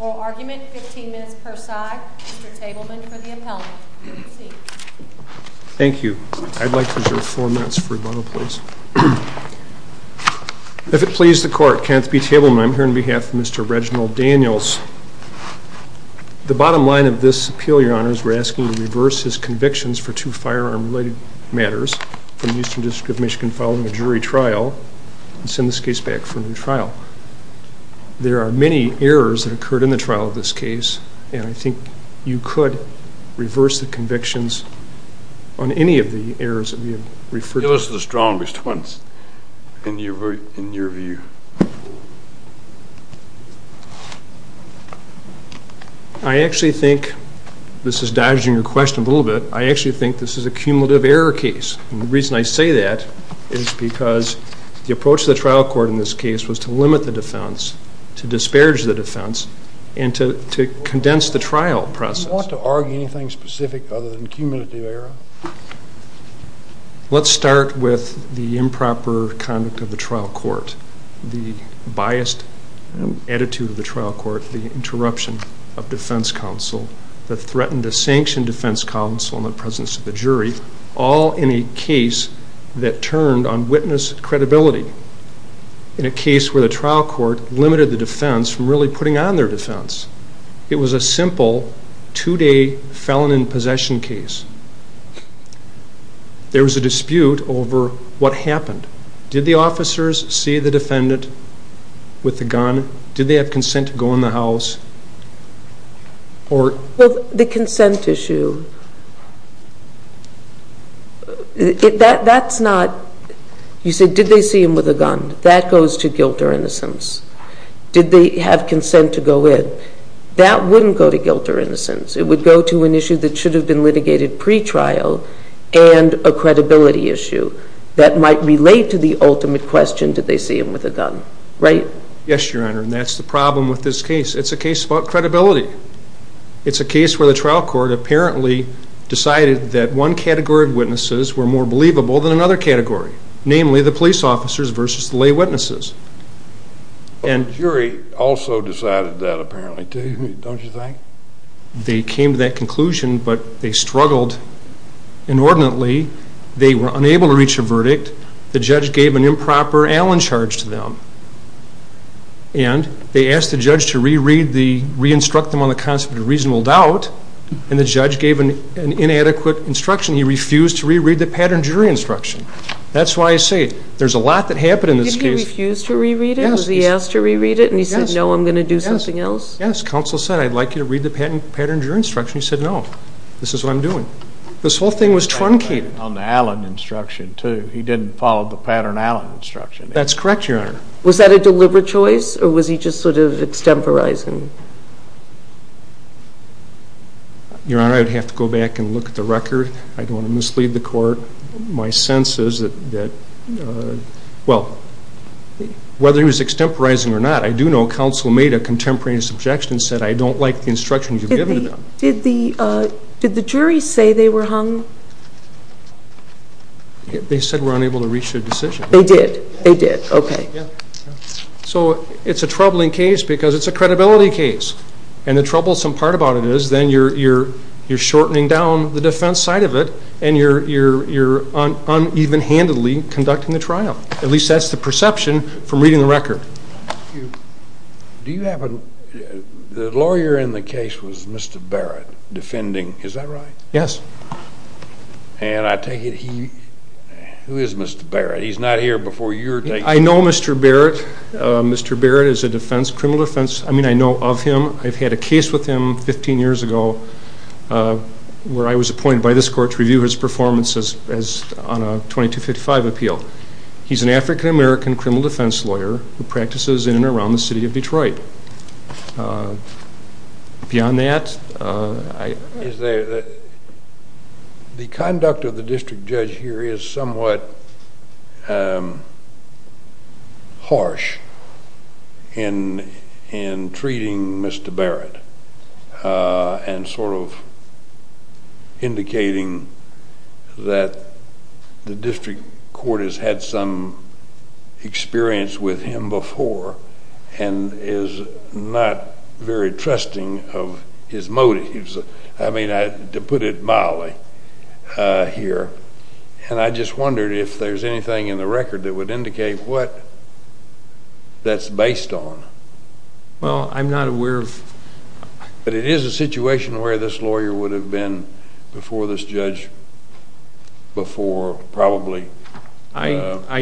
oral argument, 15 minutes per side. Mr. Tableman for the appellant. Thank you. I'd like to reserve 4 minutes for a bottle, please. If it please the court, Kenneth B. Tableman, I'm here on behalf of Mr. Reginald Daniels. The bottom line of this appeal, your honors, we're asking to reverse his convictions for two firearm-related matters from the Eastern District of Michigan following a jury trial and send this case back for a new trial. There are many errors that occurred in the trial of this case, and I think you could reverse the convictions on any of the errors that we have referred to. Those are the strongest ones, in your view. I actually think, this is dodging your question a little bit, I actually think this is a cumulative error case. The reason I say that is because the approach of the trial court in this case was to limit the defense, to disparage the defense, and to condense the trial process. Do you want to argue anything specific other than cumulative error? Let's start with the improper conduct of the trial court, the biased attitude of the trial court, the interruption of defense counsel that threatened to sanction defense counsel in the presence of the jury, all in a case that turned on witness credibility, in a case where the trial court limited the defense from really putting on their defense. It was a simple two-day felon in possession case. There was a dispute over what happened. Did the officers see the defendant with the gun? Did they have consent to go in the house? The consent issue, that's not, you said did they see him with a gun? That goes to guilt or innocence. Did they have consent to go in? That wouldn't go to guilt or innocence. It would go to an issue that should have been litigated pre-trial and a credibility issue that might relate to the ultimate question, did they see him with a gun, right? Yes, Your Honor, and that's the problem with this case. It's a case about credibility. It's a case where the trial court apparently decided that one category of witnesses were more believable than another category, namely the police officers versus the lay witnesses. The jury also decided that apparently, too, don't you think? They came to that conclusion, but they struggled inordinately. They were unable to reach a verdict. The judge gave an improper Allen charge to them, and they asked the judge to re-read the, re-instruct them on the concept of reasonable doubt, and the judge gave an inadequate instruction. He refused to re-read the pattern jury instruction. That's why I say there's a lot that happened in this case. He refused to re-read it? Yes. Because he asked to re-read it? Yes. And he said, no, I'm going to do something else? Yes, counsel said, I'd like you to read the pattern jury instruction. He said, no, this is what I'm doing. This whole thing was truncated. On the Allen instruction, too. He didn't follow the pattern Allen instruction. That's correct, Your Honor. Was that a deliberate choice, or was he just sort of extemporizing? Your Honor, I'd have to go back and look at the record. I don't want to mislead the court. My sense is that, well, whether he was extemporizing or not, I do know counsel made a contemporaneous objection and said, I don't like the instructions you've given to them. Did the jury say they were hung? They said we're unable to reach a decision. They did. They did. Okay. So it's a troubling case because it's a credibility case. And the troublesome part about it is then you're shortening down the defense side of it, and you're uneven-handedly conducting the trial. At least that's the perception from reading the record. Do you have a, the lawyer in the case was Mr. Barrett, defending, is that right? Yes. And I take it he, who is Mr. Barrett? He's not here before you were taken. I know Mr. Barrett. Mr. Barrett is a defense, criminal defense. I mean, I know of him. I've had a case with him 15 years ago where I was appointed by this court to review his performance as, on a 2255 appeal. He's an African-American criminal defense lawyer who practices in and around the city of Detroit. Beyond that, I... The conduct of the district judge here is somewhat harsh in treating Mr. Barrett. And sort of indicating that the district court has had some experience with him before, and is not very trusting of his motives. I mean, to put it mildly here. And I just wondered if there's anything in the record that would indicate what that's based on. Well, I'm not aware of... But it is a situation where this lawyer would have been before this judge before probably a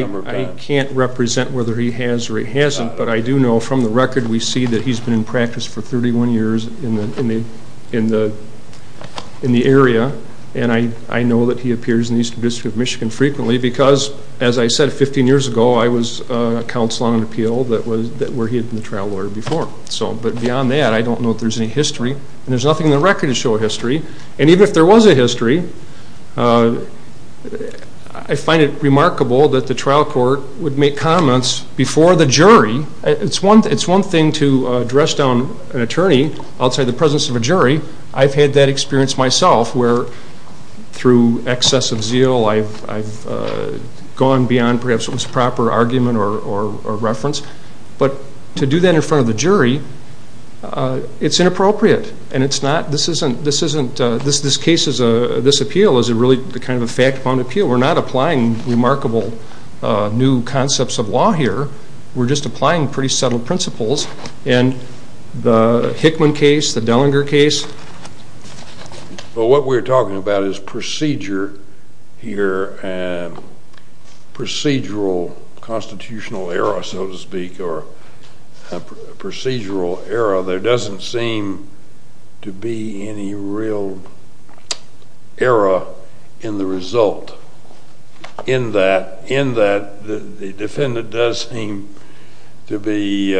number of times. I can't represent whether he has or he hasn't, but I do know from the record we see that he's been in practice for 31 years in the area. And I know that he appears in the Eastern District of Michigan frequently because, as I said 15 years ago, I was a counsel on an trial lawyer before. So, but beyond that, I don't know if there's any history. And there's nothing in the record to show history. And even if there was a history, I find it remarkable that the trial court would make comments before the jury. It's one thing to dress down an attorney outside the presence of a jury. I've had that experience myself where, through excess of zeal, I've gone beyond perhaps what's a proper argument or reference. But to do that in front of the jury, it's inappropriate. And it's not... This isn't... This case is a... This appeal is really kind of a fact-bound appeal. We're not applying remarkable new concepts of law here. We're just applying pretty subtle principles. And the Hickman case, the Dellinger case... Procedural constitutional error, so to speak, or procedural error, there doesn't seem to be any real error in the result. In that, the defendant does seem to be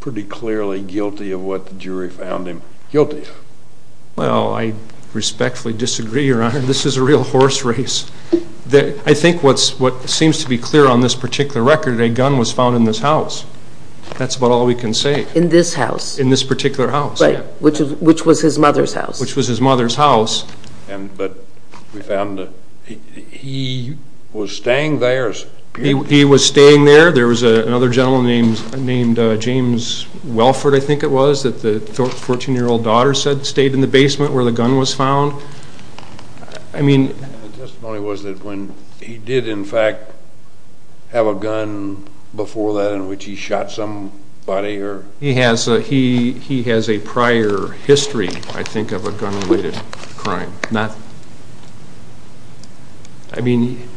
pretty clearly guilty of what the jury found him guilty of. Well, I respectfully disagree, Your Honor. This is a real horse race. I think what seems to be clear on this particular record, a gun was found in this house. That's about all we can say. In this house? In this particular house. Right. Which was his mother's house. Which was his mother's house. But we found that he was staying there. He was staying there. There was another gentleman named James Welford, I think it was, that the 14-year-old daughter said stayed in the basement where the gun was found. I mean... And the testimony was that when he did, in fact, have a gun before that in which he shot somebody or... He has a prior history, I think, of a gun-related crime. I mean,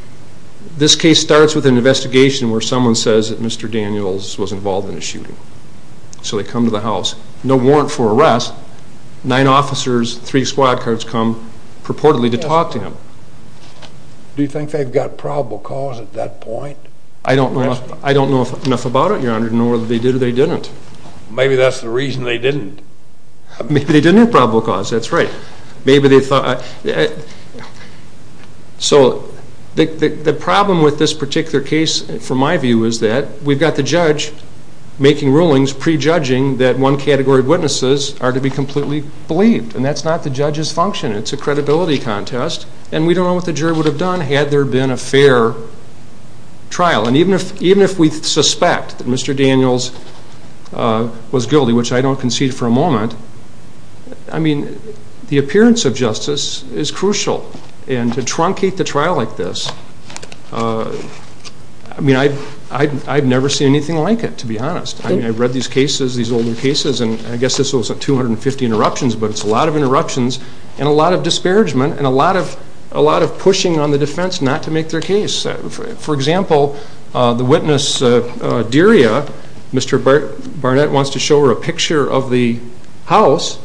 this case starts with an investigation where someone says that Mr. Daniels was involved in a shooting. So they come to the house. No warrant for arrest. Nine officers, three squad cars come purportedly to talk to him. Do you think they've got probable cause at that point? I don't know enough about it, Your Honor, to know whether they did or they didn't. Maybe that's the reason they didn't. Maybe they didn't have probable cause. That's right. Maybe they thought... So the problem with this particular case, from my view, is that we've got the judge making rulings pre-judging that one category of witnesses are to be completely believed. And that's not the judge's function. It's a credibility contest. And we don't know what the jury would have done had there been a fair trial. And even if we suspect that Mr. Daniels was guilty, which I don't concede for a moment, I mean, the appearance of justice is crucial. And to truncate the trial like this, I mean, I've never seen anything like it, to be honest. I mean, I've read these cases, these older cases, and I guess this was 250 interruptions, but it's a lot of interruptions and a lot of disparagement and a lot of pushing on the defense not to make their case. For example, the witness, Deria, Mr. Barnett wants to show her a picture of the house,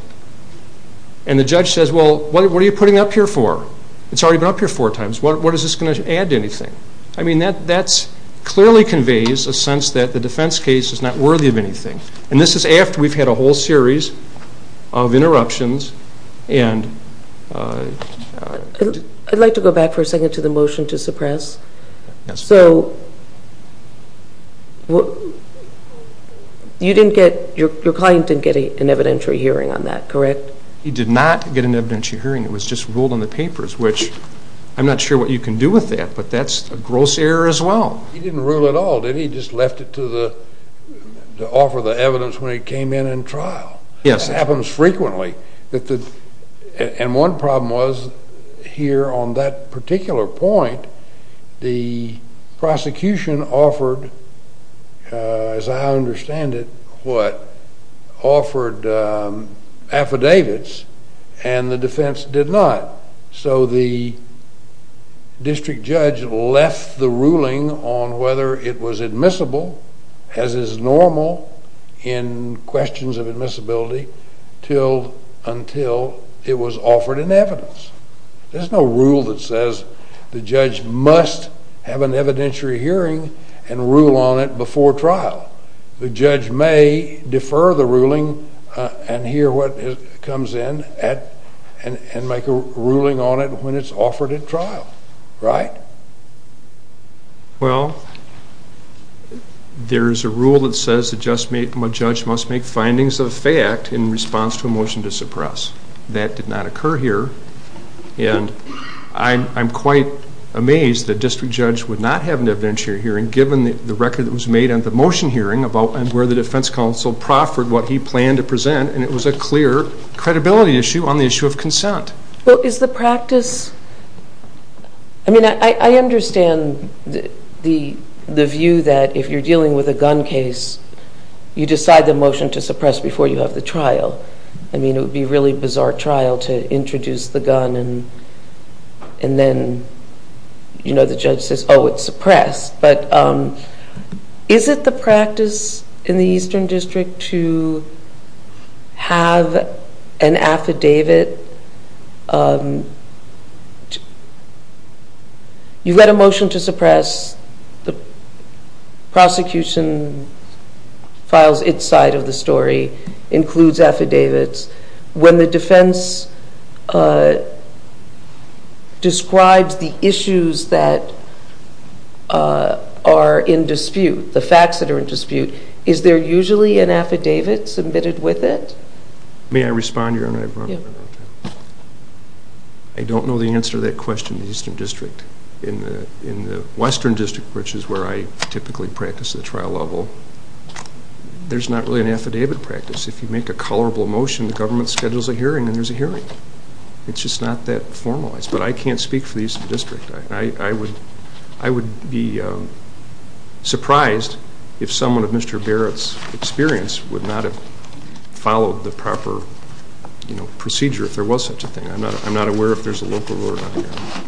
and the judge says, well, what are you putting up here for? It's already been up here four years. I mean, that clearly conveys a sense that the defense case is not worthy of anything. And this is after we've had a whole series of interruptions and... I'd like to go back for a second to the motion to suppress. So you didn't get, your client didn't get an evidentiary hearing on that, correct? He did not get an evidentiary hearing. It was just ruled on the papers, which I'm not sure what you can do with that, but that's a gross error as well. He didn't rule at all, did he? He just left it to the, to offer the evidence when he came in and trial. Yes. That happens frequently. And one problem was, here on that particular point, the prosecution offered, as I understand it, what, offered affidavits, and the defense did not. So the district judge left the ruling on whether it was admissible as is normal in questions of admissibility until it was offered in evidence. There's no rule that says the judge must have an evidentiary hearing and rule on it before trial. The judge may defer the ruling and hear what comes in and make a ruling on it when it's offered at trial, right? Well, there's a rule that says the judge must make findings of fact in response to a motion to suppress. That did not occur here, and I'm quite amazed that a district judge would not have an evidentiary hearing given the record that was made on the motion hearing about where the defense counsel proffered what he planned to present, and it was a clear credibility issue on the issue of consent. Well, is the practice, I mean, I understand the view that if you're dealing with a gun case, you decide the motion to suppress before you have the trial. I mean, it would be a really bizarre trial to introduce the gun and then, you know, the judge says, oh, it's a practice in the Eastern District to have an affidavit. You let a motion to suppress, the prosecution files its side of the story, includes affidavits. When the defense describes the issues that are in dispute, the facts that are in dispute, is there usually an affidavit submitted with it? May I respond to your question? I don't know the answer to that question in the Eastern District. In the Western District, which is where I typically practice at the trial level, there's not really an affidavit practice. If you make a colorable motion, the government schedules a hearing and there's a hearing. It's just not that formalized, but I can't speak for the Eastern District. I would be surprised if someone of Mr. Barrett's experience would not have followed the proper, you know, procedure if there was such a thing. I'm not aware if there's a local rule or not here.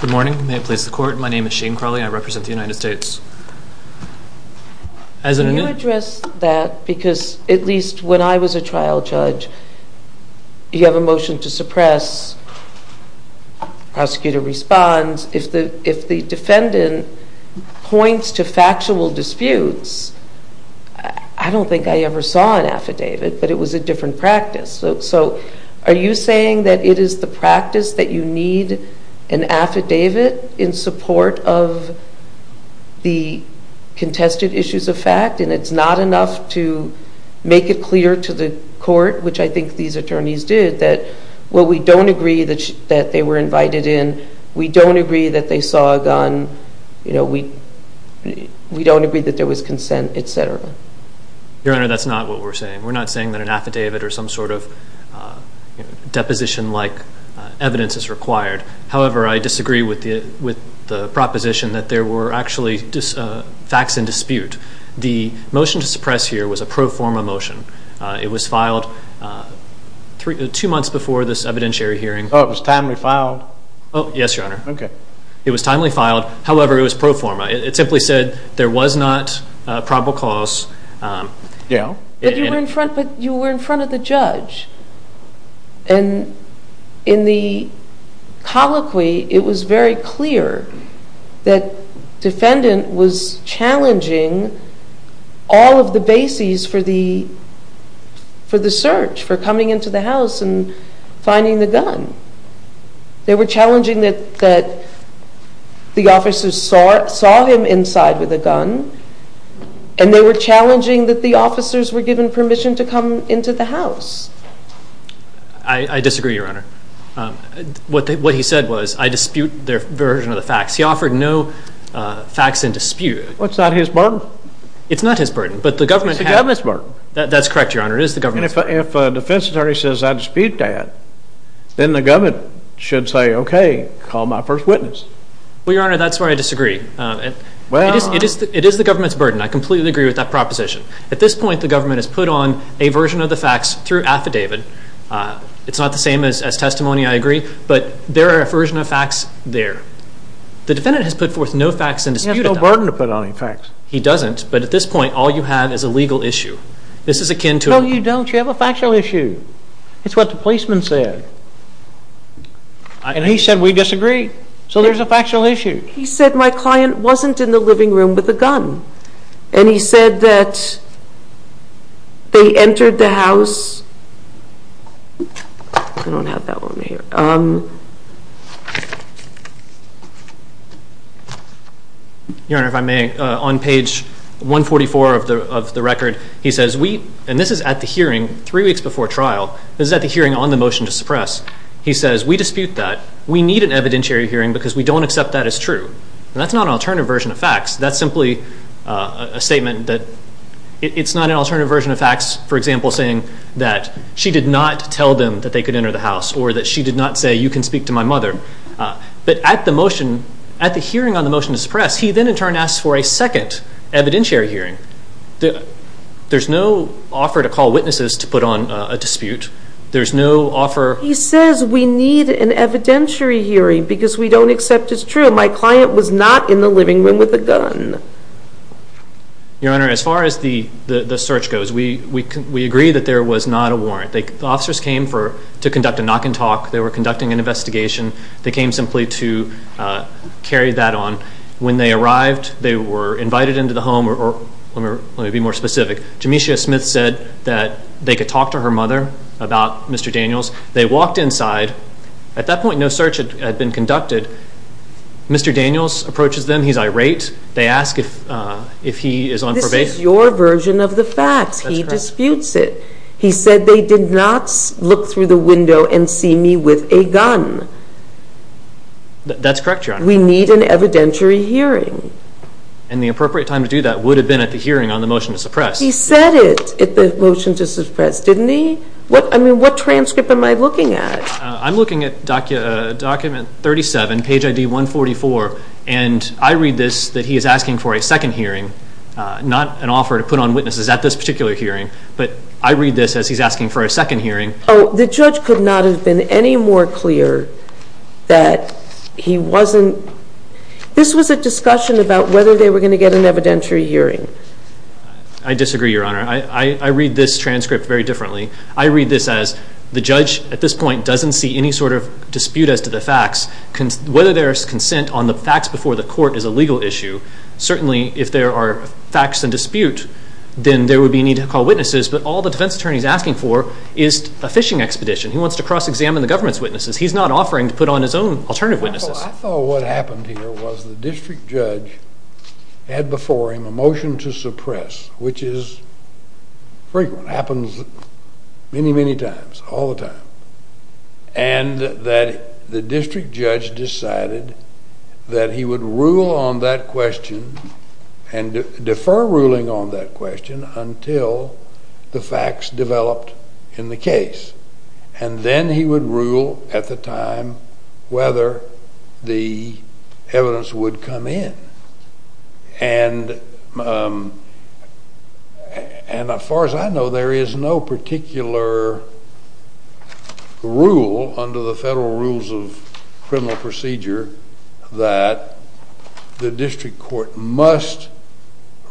Good morning. May I please the court? My name is Shane Crawley. I'm the attorney general and I represent the United States. Can you address that? Because at least when I was a trial judge, you have a motion to suppress, prosecutor responds. If the defendant points to factual disputes, I don't think I ever saw an affidavit, but it was a different practice. So are you saying that it is the contested issues of fact and it's not enough to make it clear to the court, which I think these attorneys did, that, well, we don't agree that they were invited in, we don't agree that they saw a gun, you know, we don't agree that there was consent, et cetera? Your Honor, that's not what we're saying. We're not saying that an affidavit or some sort of deposition-like evidence is required. However, I disagree with the proposition that there were actually facts in dispute. The motion to suppress here was a pro forma motion. It was filed two months before this evidentiary hearing. Oh, it was timely filed? Oh, yes, Your Honor. Okay. It was timely filed. However, it was pro forma. It simply said there was not probable cause. Yeah. But you were in front of the judge. And in the colloquy, it was very clear that the judge defendant was challenging all of the bases for the search, for coming into the house and finding the gun. They were challenging that the officers saw him inside with a gun and they were challenging that the officers were given permission to come into the house. I disagree, Your Honor. What he said was, I dispute their version of the facts. He offered no facts in dispute. Well, it's not his burden. It's not his burden. But the government had... It's the government's burden. That's correct, Your Honor. It is the government's burden. And if a defense attorney says I dispute that, then the government should say, okay, call my first witness. Well, Your Honor, that's where I disagree. It is the government's burden. I completely agree with that proposition. At this point, the government has put on a version of the facts through affidavit. It's not the same as testimony, I agree. But there are a version of facts there. The defendant has put forth no facts in dispute. He has no burden to put on any facts. He doesn't. But at this point, all you have is a legal issue. This is akin to... No, you don't. You have a factual issue. It's what the policeman said. And he said we disagree. So there's a factual issue. He said my client wasn't in the living room with a gun. And he said that they entered the house... I don't have that one here. Your Honor, if I may, on page 144 of the record, he says we, and this is at the hearing, three weeks before trial, this is at the hearing on the motion to suppress. He says we dispute that. We need an evidentiary hearing because we don't accept that as true. And that's not an alternative version of facts. That's simply a statement that it's not an individual saying that she did not tell them that they could enter the house or that she did not say you can speak to my mother. But at the motion, at the hearing on the motion to suppress, he then in turn asks for a second evidentiary hearing. There's no offer to call witnesses to put on a dispute. There's no offer... He says we need an evidentiary hearing because we don't accept it's true. My client was not in the living room with a gun. Your Honor, as far as the search goes, we agree that there was not a warrant. The officers came to conduct a knock and talk. They were conducting an investigation. They came simply to carry that on. When they arrived, they were invited into the home or, let me be more specific, Jamesha Smith said that they could talk to her mother about Mr. Daniels. They walked inside. At that point, no search had been conducted. Mr. Daniels approaches them. He's irate. They ask if he is on probation. This is your version of the facts. He disputes it. He said they did not look through the window and see me with a gun. That's correct, Your Honor. We need an evidentiary hearing. And the appropriate time to do that would have been at the hearing on the motion to suppress. He said it at the motion to suppress, didn't he? I mean, what transcript am I looking at? I'm looking at document 37, page ID 144, and I read this that he is asking for a second hearing, not an offer to put on witnesses at this particular hearing, but I read this as he's asking for a second hearing. Oh, the judge could not have been any more clear that he wasn't – this was a discussion about whether they were going to get an evidentiary hearing. I disagree, Your Honor. I read this transcript very differently. I read this as the judge at this point doesn't see any sort of dispute as to the facts. Whether there is consent on the facts before the court is a legal issue. Certainly, if there are facts in dispute, then there would be a need to call witnesses, but all the defense attorney is asking for is a fishing expedition. He wants to cross-examine the government's witnesses. He's not offering to put on his own alternative witnesses. I thought what happened here was the district judge had before him a motion to suppress, which is frequent, happens many, many times, all the time, and that the district judge decided that he would rule on that question and defer ruling on that question until the facts developed in the case, and then he would rule at the time whether the evidence would come in. And as far as I know, there is no particular rule under the federal rules of criminal procedure that the district court must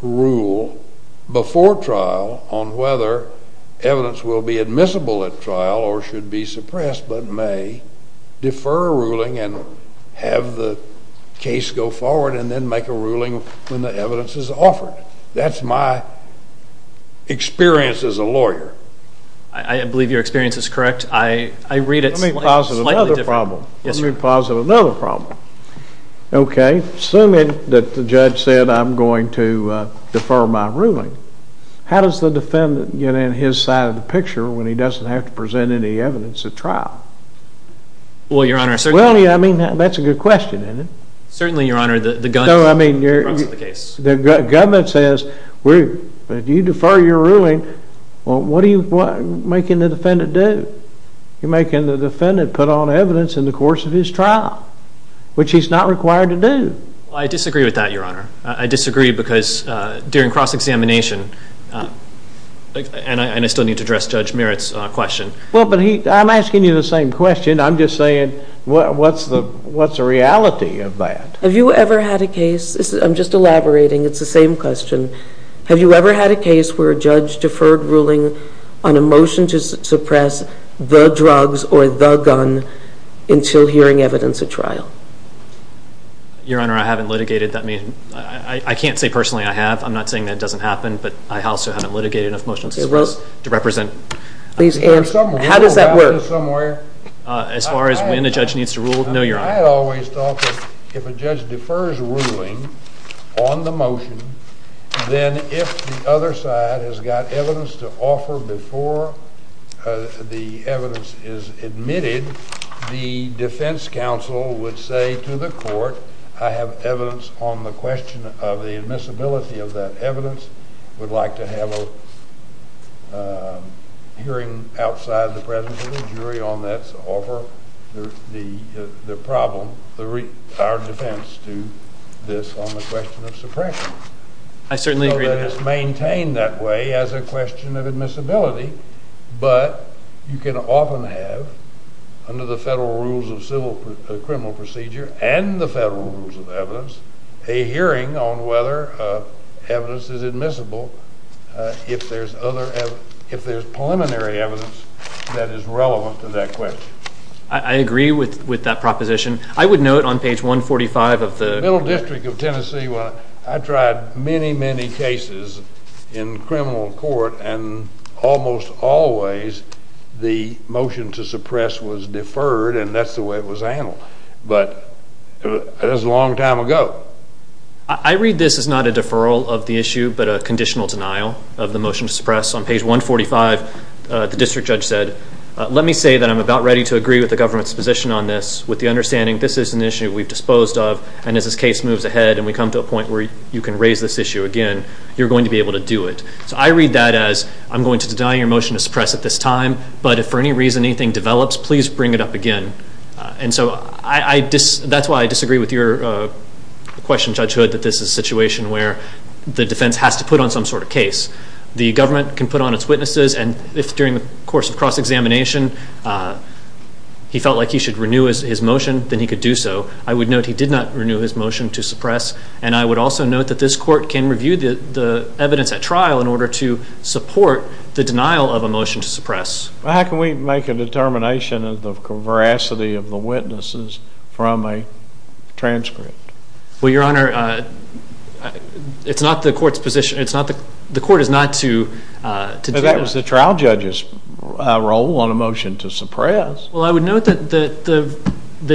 rule before trial on whether evidence will be admissible at trial or should be suppressed, but may defer ruling and have the case go forward, and then make a ruling when the evidence is offered. That's my experience as a lawyer. I believe your experience is correct. I read it slightly differently. Let me posit another problem. Let me posit another problem. Okay. Assuming that the judge said I'm going to defer my ruling, how does the defendant get in his side of the picture when he doesn't have to present any evidence at trial? Well, Your Honor, certainly... Well, yeah, I mean, that's a good question, isn't it? Certainly, Your Honor, the gun... No, I mean, the government says if you defer your ruling, well, what are you making the defendant do? You're making the defendant put on evidence in the course of his trial, which he's not required to do. I disagree with that, Your Honor. I disagree because during cross-examination, and I still need to address Judge Merritt's question... Well, but I'm asking you the same question. I'm just saying, what's the reality of that? Have you ever had a case... I'm just elaborating. It's the same question. Have you ever had a case where a judge deferred ruling on a motion to suppress the drugs or the gun until hearing evidence at trial? Your Honor, I haven't litigated. I can't say personally I have. I'm not saying that doesn't happen, but I also haven't litigated a motion to suppress to represent... How does that work? As far as when a judge needs to rule? No, Your Honor. I always thought that if a judge defers ruling on the motion, then if the other side has got evidence to offer before the evidence is admitted, the defense counsel would say to the court, I have evidence on the question of the admissibility of that evidence, would like to have a hearing outside the presence of the jury on that to offer the problem, our defense, to this on the question of suppression. I certainly agree with that. So that is maintained that way as a question of admissibility, but you can often have, under the federal rules of criminal procedure and the federal rules of evidence, a hearing on whether evidence is admissible if there's other, if there's preliminary evidence that is relevant to that question. I agree with that proposition. I would note on page 145 of the... The Middle District of Tennessee, I tried many, many cases in criminal court, and almost always the motion to suppress was deferred, and that's the way it was handled. But that was a long time ago. I read this as not a deferral of the issue, but a conditional denial of the motion to suppress. On page 145, the district judge said, let me say that I'm about ready to agree with the government's position on this, with the understanding this is an issue we've disposed of, and as this case moves ahead and we come to a point where you can raise this issue again, you're going to be able to do it. So I read that as, I'm going to deny your motion to suppress at this time, but if for any reason anything develops, please bring it up again. And so that's why I disagree with your question, Judge Hood, that this is a situation where the defense has to put on some sort of case. The government can put on its witnesses, and if during the course of cross-examination he felt like he should renew his motion, then he could do so. I would note he did not renew his motion to suppress, and I would also note that this court can review the evidence at trial in order to support the denial of a motion to suppress. Well, how can we make a determination of the veracity of the witnesses from a transcript? Well, Your Honor, it's not the court's position, it's not, the court is not to do that. But that was the trial judge's role on a motion to suppress. Well, I would note that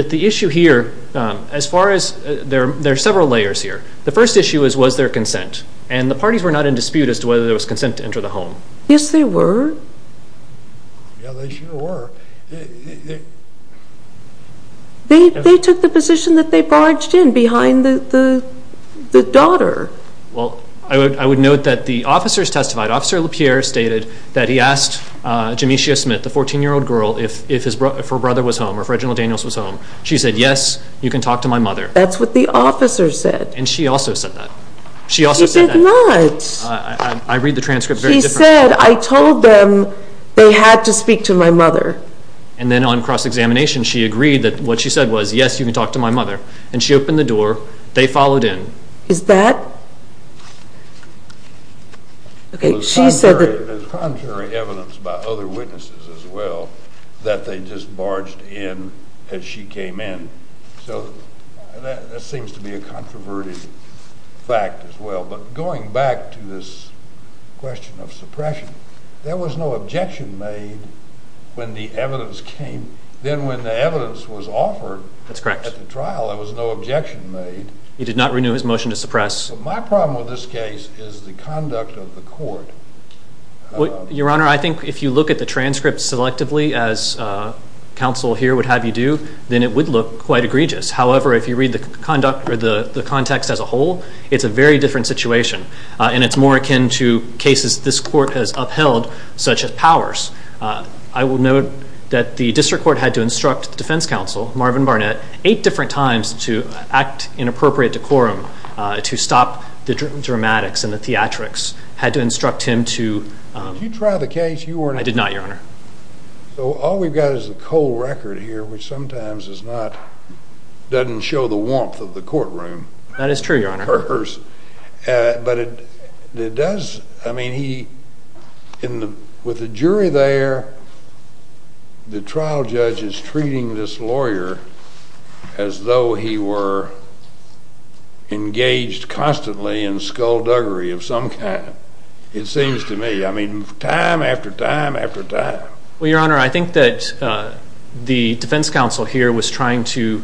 the issue here, as far as, there are several layers here. The first issue was, was there consent? And the parties were not in dispute as to whether there was consent to enter the home. Yes, there were. Yeah, they sure were. They took the position that they barged in behind the daughter. Well, I would note that the officers testified, Officer LaPierre stated that he asked Jamicia Smith, the 14-year-old girl, if her brother was home, or if Reginald Daniels was home. She said, yes, you can talk to my mother. That's what the officer said. And she also said that. She did not. I read the transcript very differently. She said, I told them they had to speak to my mother. And then on cross-examination she agreed that what she said was, yes, you can talk to my mother. And she opened the door, they followed in. Is that? Okay, she said that. There's contrary evidence by other witnesses as well, that they just barged in as she came in. So that seems to be a controverted fact as well. But going back to this question of suppression, there was no objection made when the evidence came. Then when the evidence was offered at the trial, there was no objection made. He did not renew his motion to suppress. But my problem with this case is the conduct of the court. Your Honor, I think if you look at the transcript selectively, as counsel here would have you then it would look quite egregious. However, if you read the context as a whole, it's a very different situation. And it's more akin to cases this court has upheld, such as Powers. I will note that the district court had to instruct the defense counsel, Marvin Barnett, eight different times to act in appropriate decorum to stop the dramatics and the theatrics. Had to instruct him to... Did you try the case, Your Honor? I did not, Your Honor. So all we've got is a cold record here, which sometimes doesn't show the warmth of the courtroom. That is true, Your Honor. But it does... I mean, with the jury there, the trial judge is treating this lawyer as though he were engaged constantly in skullduggery of some kind. It seems to me, I mean, time after time after time. Well, Your Honor, I think that the defense counsel here was trying to,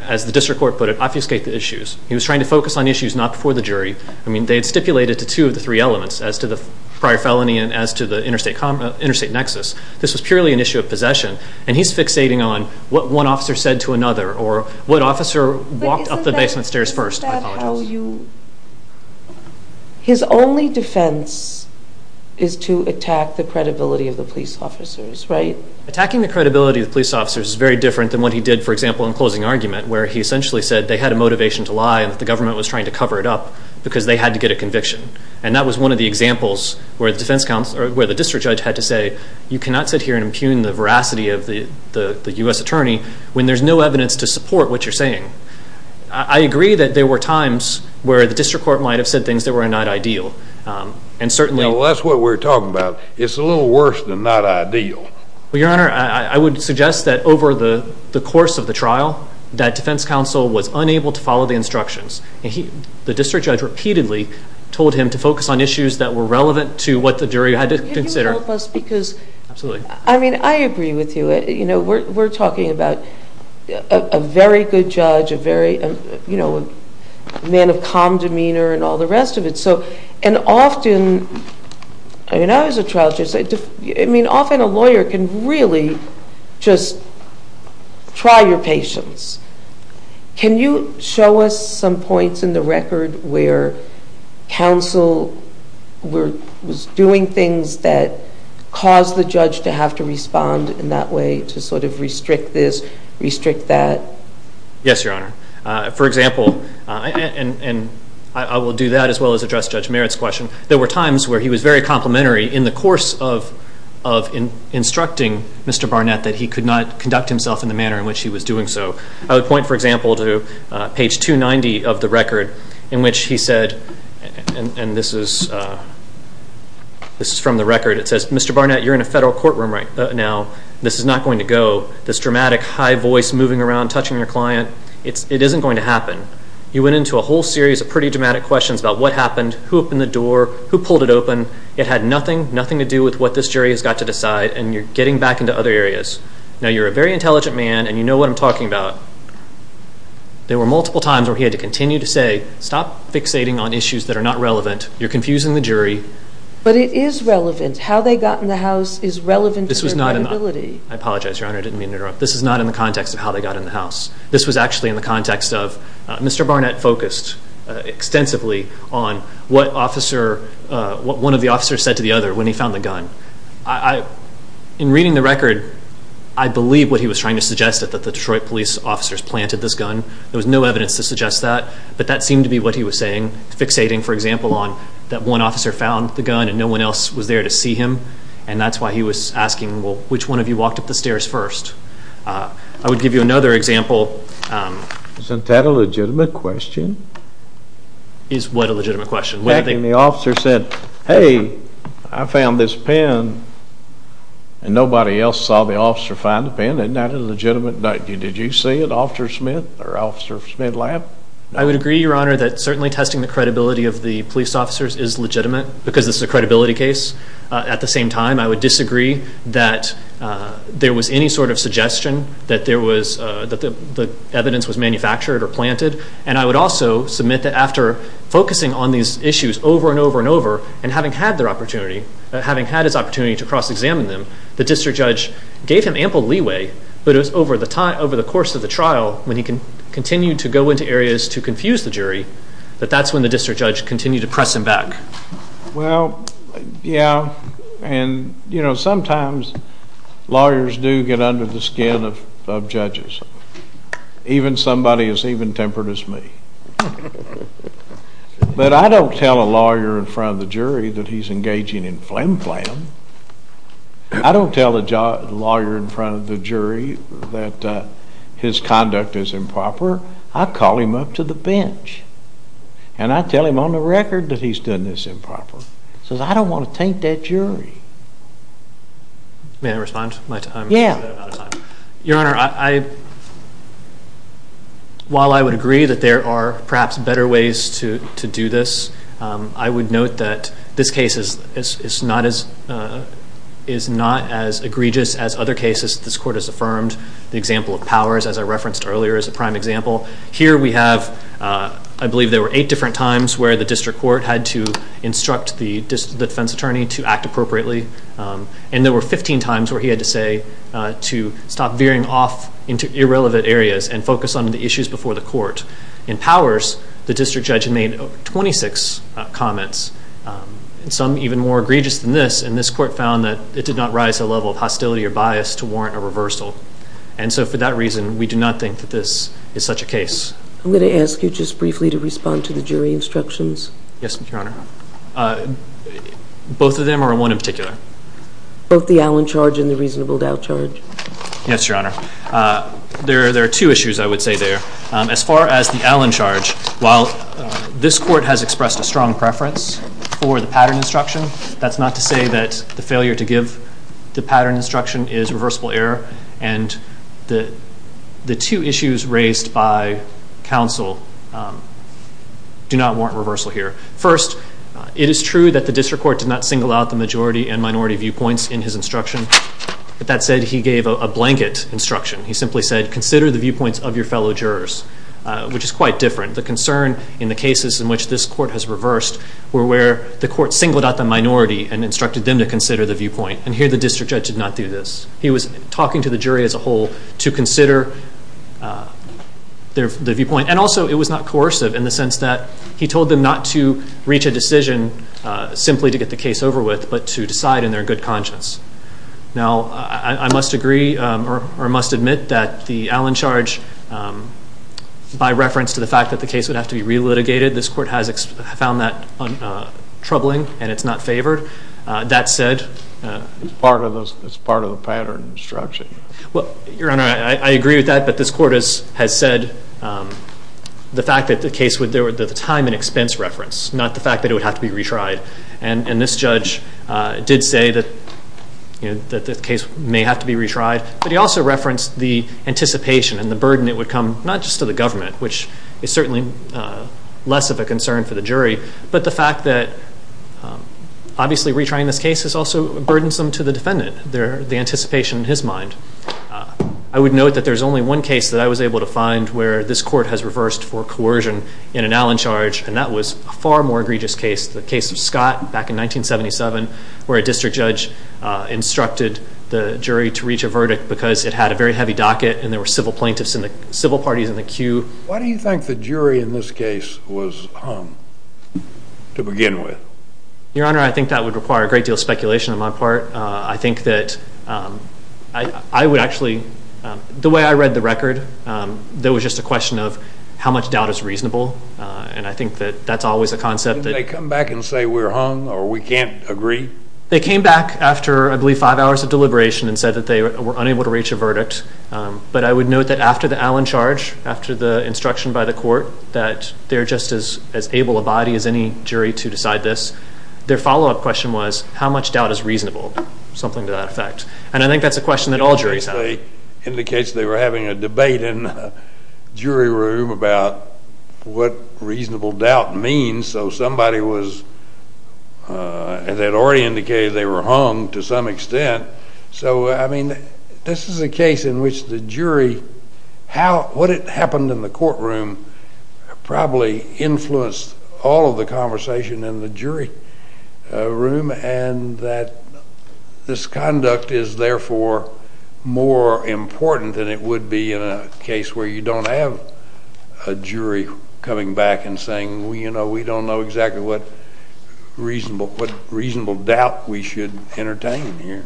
as the district court put it, obfuscate the issues. He was trying to focus on issues not before the jury. I mean, they had stipulated to two of the three elements as to the prior felony and as to the interstate nexus. This was purely an issue of possession. And he's fixating on what one officer said to another or what officer walked up the basement stairs first. I apologize. His only defense is to attack the credibility of the police officers, right? Attacking the credibility of the police officers is very different than what he did, for example, in closing argument, where he essentially said they had a motivation to lie and that the government was trying to cover it up because they had to get a conviction. And that was one of the examples where the district judge had to say, you cannot sit here and impugn the veracity of the U.S. attorney when there's no evidence to support what you're saying. I agree that there were times where the district court might have said things that were not ideal. And certainly... Well, that's what we're talking about. It's a little worse than not ideal. Well, Your Honor, I would suggest that over the course of the trial, that defense counsel was unable to follow the instructions. The district judge repeatedly told him to focus on issues that were relevant to what the jury had to consider. Can you help us because... Absolutely. I mean, I agree with you. You know, we're talking about a very good judge, a man of calm demeanor and all the rest of it. And often... I mean, I was a trial judge. I mean, often a lawyer can really just try your patience. Can you show us some points in the record where counsel was doing things that caused the judge to have to respond in that way to sort of restrict this, restrict that? Yes, Your Honor. For example, and I will do that as well as address Judge Merritt's question, there were times where he was very complimentary in the course of instructing Mr. Barnett that he could not conduct himself in the manner in which he was doing so. I would point, for example, to page 290 of the record in which he said, and this is from the record, it says, Mr. Barnett, you're in a federal courtroom right now. This is not going to go. This dramatic high voice moving around, touching your client, it isn't going to happen. You went into a whole series of pretty dramatic questions about what happened, who opened the door, who pulled it open. It had nothing, nothing to do with what this jury has got to decide and you're getting back into other areas. Now, you're a very intelligent man and you know what I'm talking about. There were multiple times where he had to continue to say, stop fixating on issues that are not relevant. You're confusing the jury. But it is relevant. How they got in the house is relevant to your credibility. I apologize, Your Honor. I didn't mean to interrupt. This is not in the context of how they got in the house. This was actually in the context of Mr. Barnett focused extensively on what one of the officers said to the other when he found the gun. In reading the record, I believe what he was trying to suggest is that the Detroit police officers planted this gun. There was no evidence to suggest that, but that seemed to be what he was saying, fixating, for example, on that one officer found the gun and no one else was there to see him. And that's why he was asking, well, which one of you walked up the stairs first? I would give you another example. Isn't that a legitimate question? Is what a legitimate question? When the officer said, hey, I found this pen and nobody else saw the officer find the pen. Isn't that a legitimate? Did you see it, Officer Smith or Officer Smith lab? I would agree, Your Honor, that certainly testing the credibility of the police officers is legitimate because this is a credibility case. At the same time, I would disagree that there was any sort of suggestion that the evidence was manufactured or planted, and I would also submit that after focusing on these issues over and over and over and having had their opportunity, having had his opportunity to cross-examine them, the district judge gave him ample leeway, but it was over the course of the trial when he continued to go into areas to confuse the jury, but that's when the district judge continued to press him back. Well, yeah, and you know, sometimes lawyers do get under the skin of judges. Even somebody as even-tempered as me. But I don't tell a lawyer in front of the jury that he's engaging in flim-flam. I don't tell a lawyer in front of the jury that his conduct is improper. I call him up to the bench, and I tell him on the record that he's done this improper. I don't want to taint that jury. May I respond? Yeah. Your Honor, while I would agree that there are perhaps better ways to do this, I would is not as egregious as other cases this court has affirmed. The example of Powers, as I referenced earlier, is a prime example. Here we have, I believe there were eight different times where the district court had to instruct the defense attorney to act appropriately, and there were 15 times where he had to say to stop veering off into irrelevant areas and focus on the issues before the court. In Powers, the district judge made 26 comments, some even more egregious than this. And this court found that it did not rise to a level of hostility or bias to warrant a reversal. And so for that reason, we do not think that this is such a case. I'm going to ask you just briefly to respond to the jury instructions. Yes, Your Honor. Both of them or one in particular? Both the Allen charge and the reasonable doubt charge. Yes, Your Honor. There are two issues I would say there. As far as the Allen charge, while this court has expressed a strong preference for the failure to give the pattern instruction is reversible error, and the two issues raised by counsel do not warrant reversal here. First, it is true that the district court did not single out the majority and minority viewpoints in his instruction. That said, he gave a blanket instruction. He simply said, consider the viewpoints of your fellow jurors, which is quite different. The concern in the cases in which this court has reversed were where the court singled out a minority and instructed them to consider the viewpoint. And here, the district judge did not do this. He was talking to the jury as a whole to consider the viewpoint. And also, it was not coercive in the sense that he told them not to reach a decision simply to get the case over with, but to decide in their good conscience. Now, I must agree or must admit that the Allen charge, by reference to the fact that the case would have to be relitigated, this court has found that troubling and it's not favored. That said... It's part of the pattern instruction. Well, Your Honor, I agree with that. But this court has said the fact that the case would... the time and expense reference, not the fact that it would have to be retried. And this judge did say that the case may have to be retried. But he also referenced the anticipation and the burden it would come, not just to the less of a concern for the jury, but the fact that obviously retrying this case is also burdensome to the defendant. The anticipation in his mind. I would note that there's only one case that I was able to find where this court has reversed for coercion in an Allen charge, and that was a far more egregious case. The case of Scott back in 1977, where a district judge instructed the jury to reach a verdict because it had a very heavy docket and there were civil plaintiffs in the... civil parties in the queue. Why do you think the jury in this case was hung to begin with? Your Honor, I think that would require a great deal of speculation on my part. I think that I would actually... The way I read the record, there was just a question of how much doubt is reasonable. And I think that that's always a concept that... Did they come back and say we're hung or we can't agree? They came back after, I believe, five hours of deliberation and said that they were unable to reach a verdict. But I would note that after the Allen charge, after the instruction by the court, that they're just as able a body as any jury to decide this. Their follow-up question was, how much doubt is reasonable? Something to that effect. And I think that's a question that all juries have. Indicates they were having a debate in the jury room about what reasonable doubt means. So somebody was... That already indicated they were hung to some extent. So, I mean, this is a case in which the jury... What happened in the courtroom probably influenced all of the conversation in the jury room and that this conduct is therefore more important than it would be in a case where you don't have a jury coming back and saying, you know, we don't know exactly what reasonable doubt we should entertain here.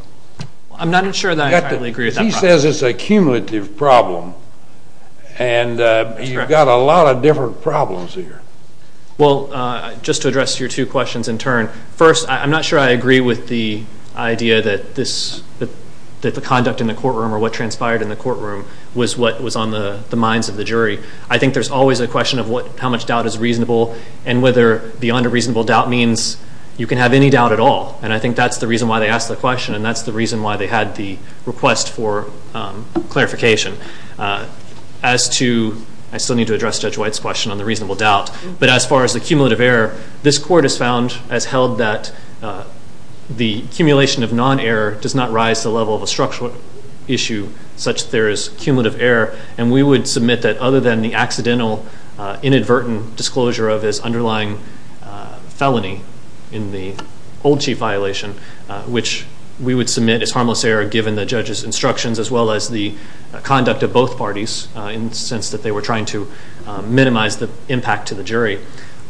I'm not sure that I entirely agree with that. He says it's a cumulative problem. And you've got a lot of different problems here. Well, just to address your two questions in turn. First, I'm not sure I agree with the idea that the conduct in the courtroom or what transpired in the courtroom was what was on the minds of the jury. I think there's always a question of how much doubt is reasonable and whether beyond a reasonable doubt means you can have any doubt at all. And I think that's the reason why they asked the question and that's the reason why they had the request for clarification. As to... I still need to address Judge White's question on the reasonable doubt. But as far as the cumulative error, this Court has found, has held that the accumulation of non-error does not rise to the level of a structural issue such that there is cumulative error. And we would submit that other than the accidental inadvertent disclosure of his underlying felony in the old chief violation, which we would submit is harmless error given the judge's instructions as well as the conduct of both parties in the sense that they were trying to minimize the impact to the jury.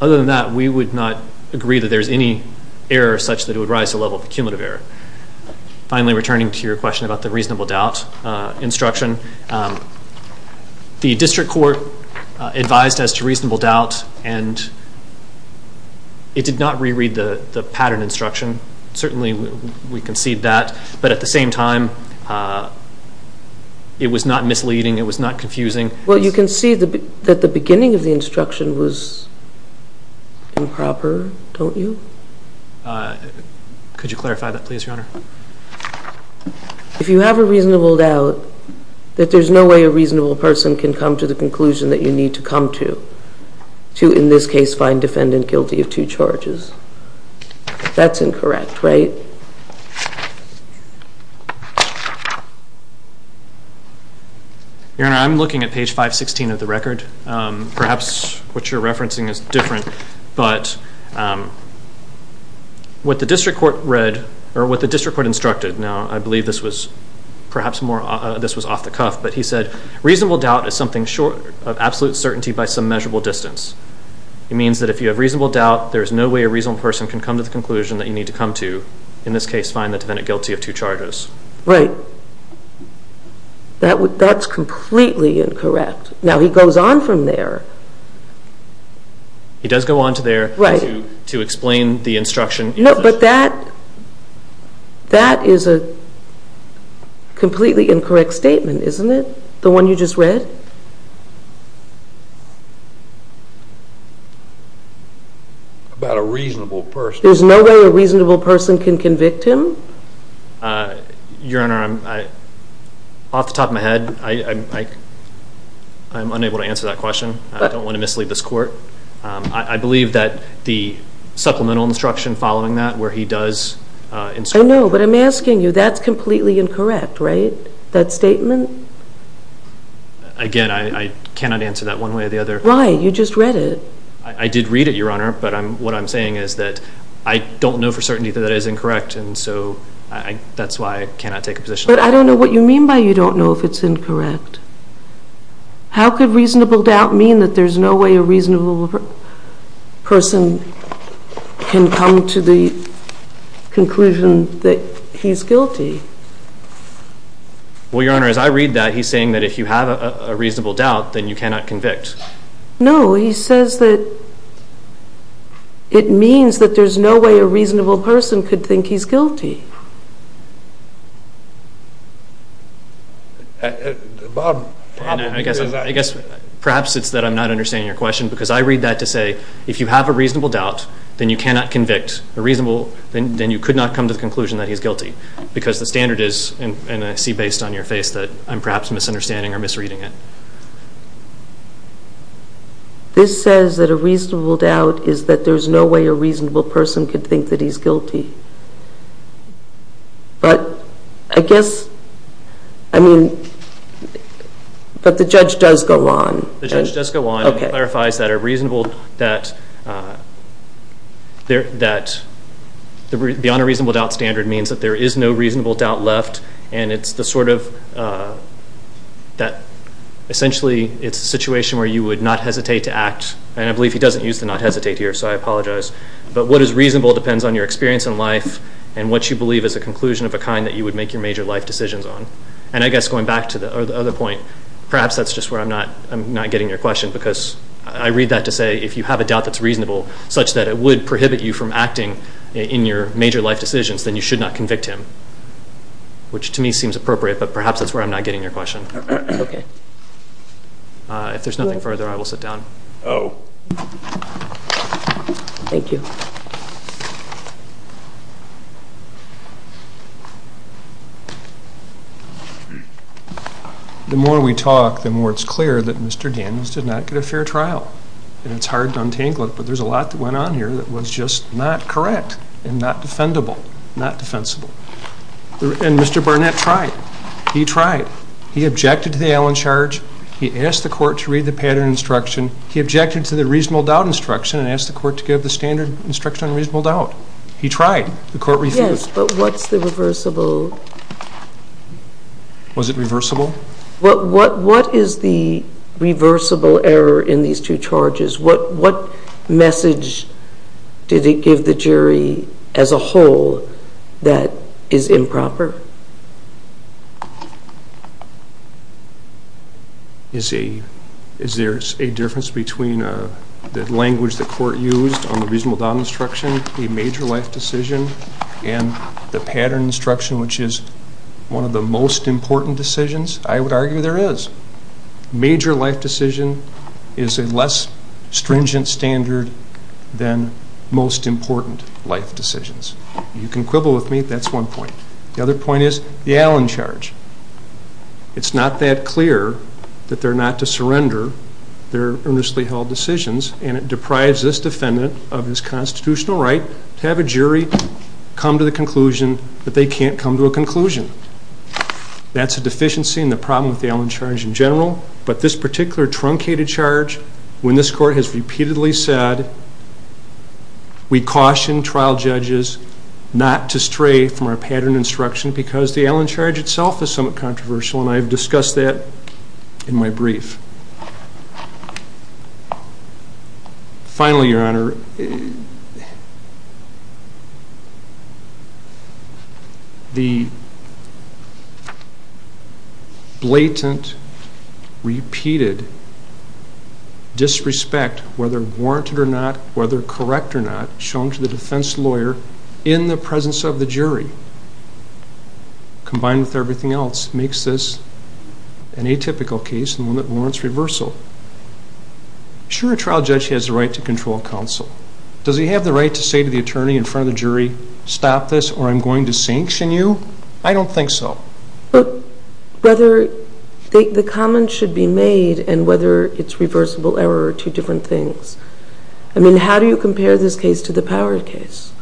Other than that, we would not agree that there's any error such that it would rise to the level of a cumulative error. Finally, returning to your question about the reasonable doubt instruction, the District Court advised as to reasonable doubt and it did not reread the pattern instruction. Certainly, we concede that. But at the same time, it was not misleading. It was not confusing. Well, you can see that the beginning of the instruction was improper, don't you? Could you clarify that please, Your Honor? If you have a reasonable doubt, that there's no way a reasonable person can come to the conclusion that you need to come to, to in this case find defendant guilty of two charges. That's incorrect, right? Your Honor, I'm looking at page 516 of the record. Perhaps what you're referencing is different, but what the District Court read or what the District Court instructed, now I believe this was perhaps more off the cuff, but he said, reasonable doubt is something short of absolute certainty by some measurable distance. It means that if you have reasonable doubt, there's no way a reasonable person can come to the conclusion that you need to come to, in this case, find the defendant guilty of two charges. Right. That's completely incorrect. Now, he goes on from there. He does go on to there to explain the instruction. No, but that is a completely incorrect statement, isn't it? The one you just read? About a reasonable person. There's no way a reasonable person can convict him? Your Honor, off the top of my head, I'm unable to answer that question. I don't want to mislead this Court. I believe that the supplemental instruction following that where he does instruct. No, but I'm asking you, that's completely incorrect, right? That statement? Again, I cannot answer that one way or the other. Right. You just read it. I did read it, Your Honor, but what I'm saying is that I don't know for certainty that that is incorrect, and so that's why I cannot take a position on it. But I don't know what you mean by you don't know if it's incorrect. How could reasonable doubt mean that there's no way a reasonable person can come to the conclusion that he's guilty? Well, Your Honor, as I read that, he's saying that if you have a reasonable doubt, then you cannot convict. No, he says that it means that there's no way a reasonable person could think he's guilty. I guess perhaps it's that I'm not understanding your question, because I read that to say if you have a reasonable doubt, then you cannot convict. Then you could not come to the conclusion that he's guilty, because the standard is, and I see based on your face, that I'm perhaps misunderstanding or misreading it. This says that a reasonable doubt is that there's no way a reasonable person could think that he's guilty. But I guess, I mean, but the judge does go on. The judge does go on. Okay. He clarifies that a reasonable, that the beyond a reasonable doubt standard means that there is no reasonable doubt left. And it's the sort of, that essentially it's a situation where you would not hesitate to act. And I believe he doesn't use the not hesitate here, so I apologize. But what is reasonable depends on your experience in life and what you believe is a conclusion of a kind that you would make your major life decisions on. And I guess going back to the other point, perhaps that's just where I'm not getting your question, because I read that to say if you have a doubt that's reasonable, such that it would prohibit you from acting in your major life decisions, then you should not convict him. Which to me seems appropriate, but perhaps that's where I'm not getting your question. Okay. If there's nothing further, I will sit down. Oh. Thank you. The more we talk, the more it's clear that Mr. Daniels did not get a fair trial. And it's hard to untangle it, but there's a lot that went on here that was just not correct and not defendable, not defensible. And Mr. Barnett tried. He tried. He objected to the Allen charge. He asked the court to read the pattern instruction. He objected to the reasonable doubt instruction and asked the court to give the standard instruction on reasonable doubt. He tried. The court refused. Yes, but what's the reversible? Was it reversible? What is the reversible error in these two charges? What message did it give the jury as a whole that is improper? Is there a difference between the language the court used on the reasonable doubt instruction, the major life decision, and the pattern instruction, which is one of the most important decisions? I would argue there is. Major life decision is a less stringent standard than most important life decisions. You can quibble with me. That's one point. The other point is the Allen charge. It's not that clear that they're not to surrender their earnestly held decisions, and it deprives this defendant of his constitutional right to have a jury come to the conclusion that they can't come to a conclusion. That's a deficiency in the problem with the Allen charge in general, but this particular truncated charge, when this court has repeatedly said, we caution trial judges not to stray from our pattern instruction because the Allen charge itself is somewhat controversial, and I have discussed that in my brief. Finally, Your Honor, the blatant, repeated disrespect, whether warranted or not, whether correct or not, shown to the defense lawyer in the presence of the jury, combined with everything else, makes this an atypical case and one that warrants reversal. Sure, a trial judge has the right to control counsel. Does he have the right to say to the attorney in front of the jury, stop this or I'm going to sanction you? I don't think so. But whether the comment should be made and whether it's reversible error are two different things. I mean, how do you compare this case to the Power case?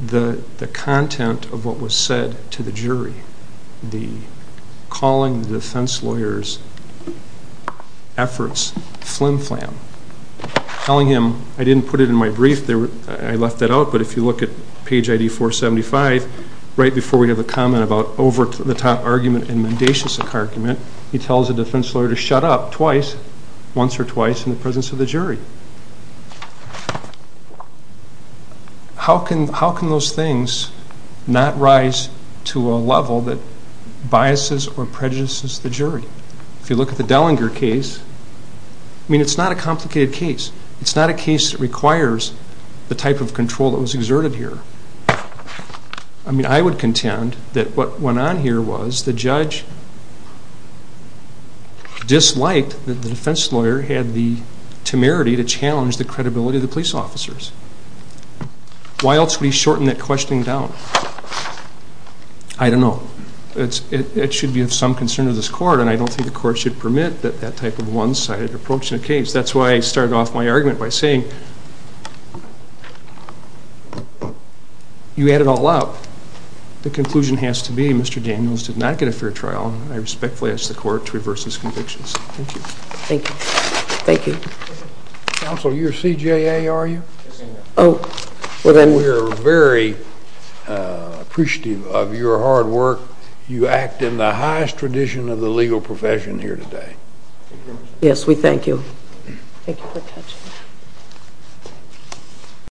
The content of what was said to the jury, the calling the defense lawyer's efforts flim-flam, telling him I didn't put it in my brief, I left that out, but if you look at page ID 475, right before we have a comment about over-the-top argument and mendacious argument, he tells the defense lawyer to shut up twice, once or twice, in the presence of the jury. How can those things not rise to a level that biases or prejudices the jury? If you look at the Dellinger case, I mean, it's not a complicated case. It's not a case that requires the type of control that was exerted here. I mean, I would contend that what went on here was the judge disliked that the defense lawyer had the temerity to challenge the credibility of the police officers. Why else would he shorten that questioning down? I don't know. It should be of some concern to this court, and I don't think the court should permit that type of one-sided approach in a case. That's why I started off my argument by saying you add it all up. The conclusion has to be Mr. Daniels did not get a fair trial, and I respectfully ask the court to reverse his convictions. Thank you. Thank you. Thank you. Counsel, you're CJA, are you? Yes, I am. We're very appreciative of your hard work. You act in the highest tradition of the legal profession here today. Thank you very much. Yes, we thank you.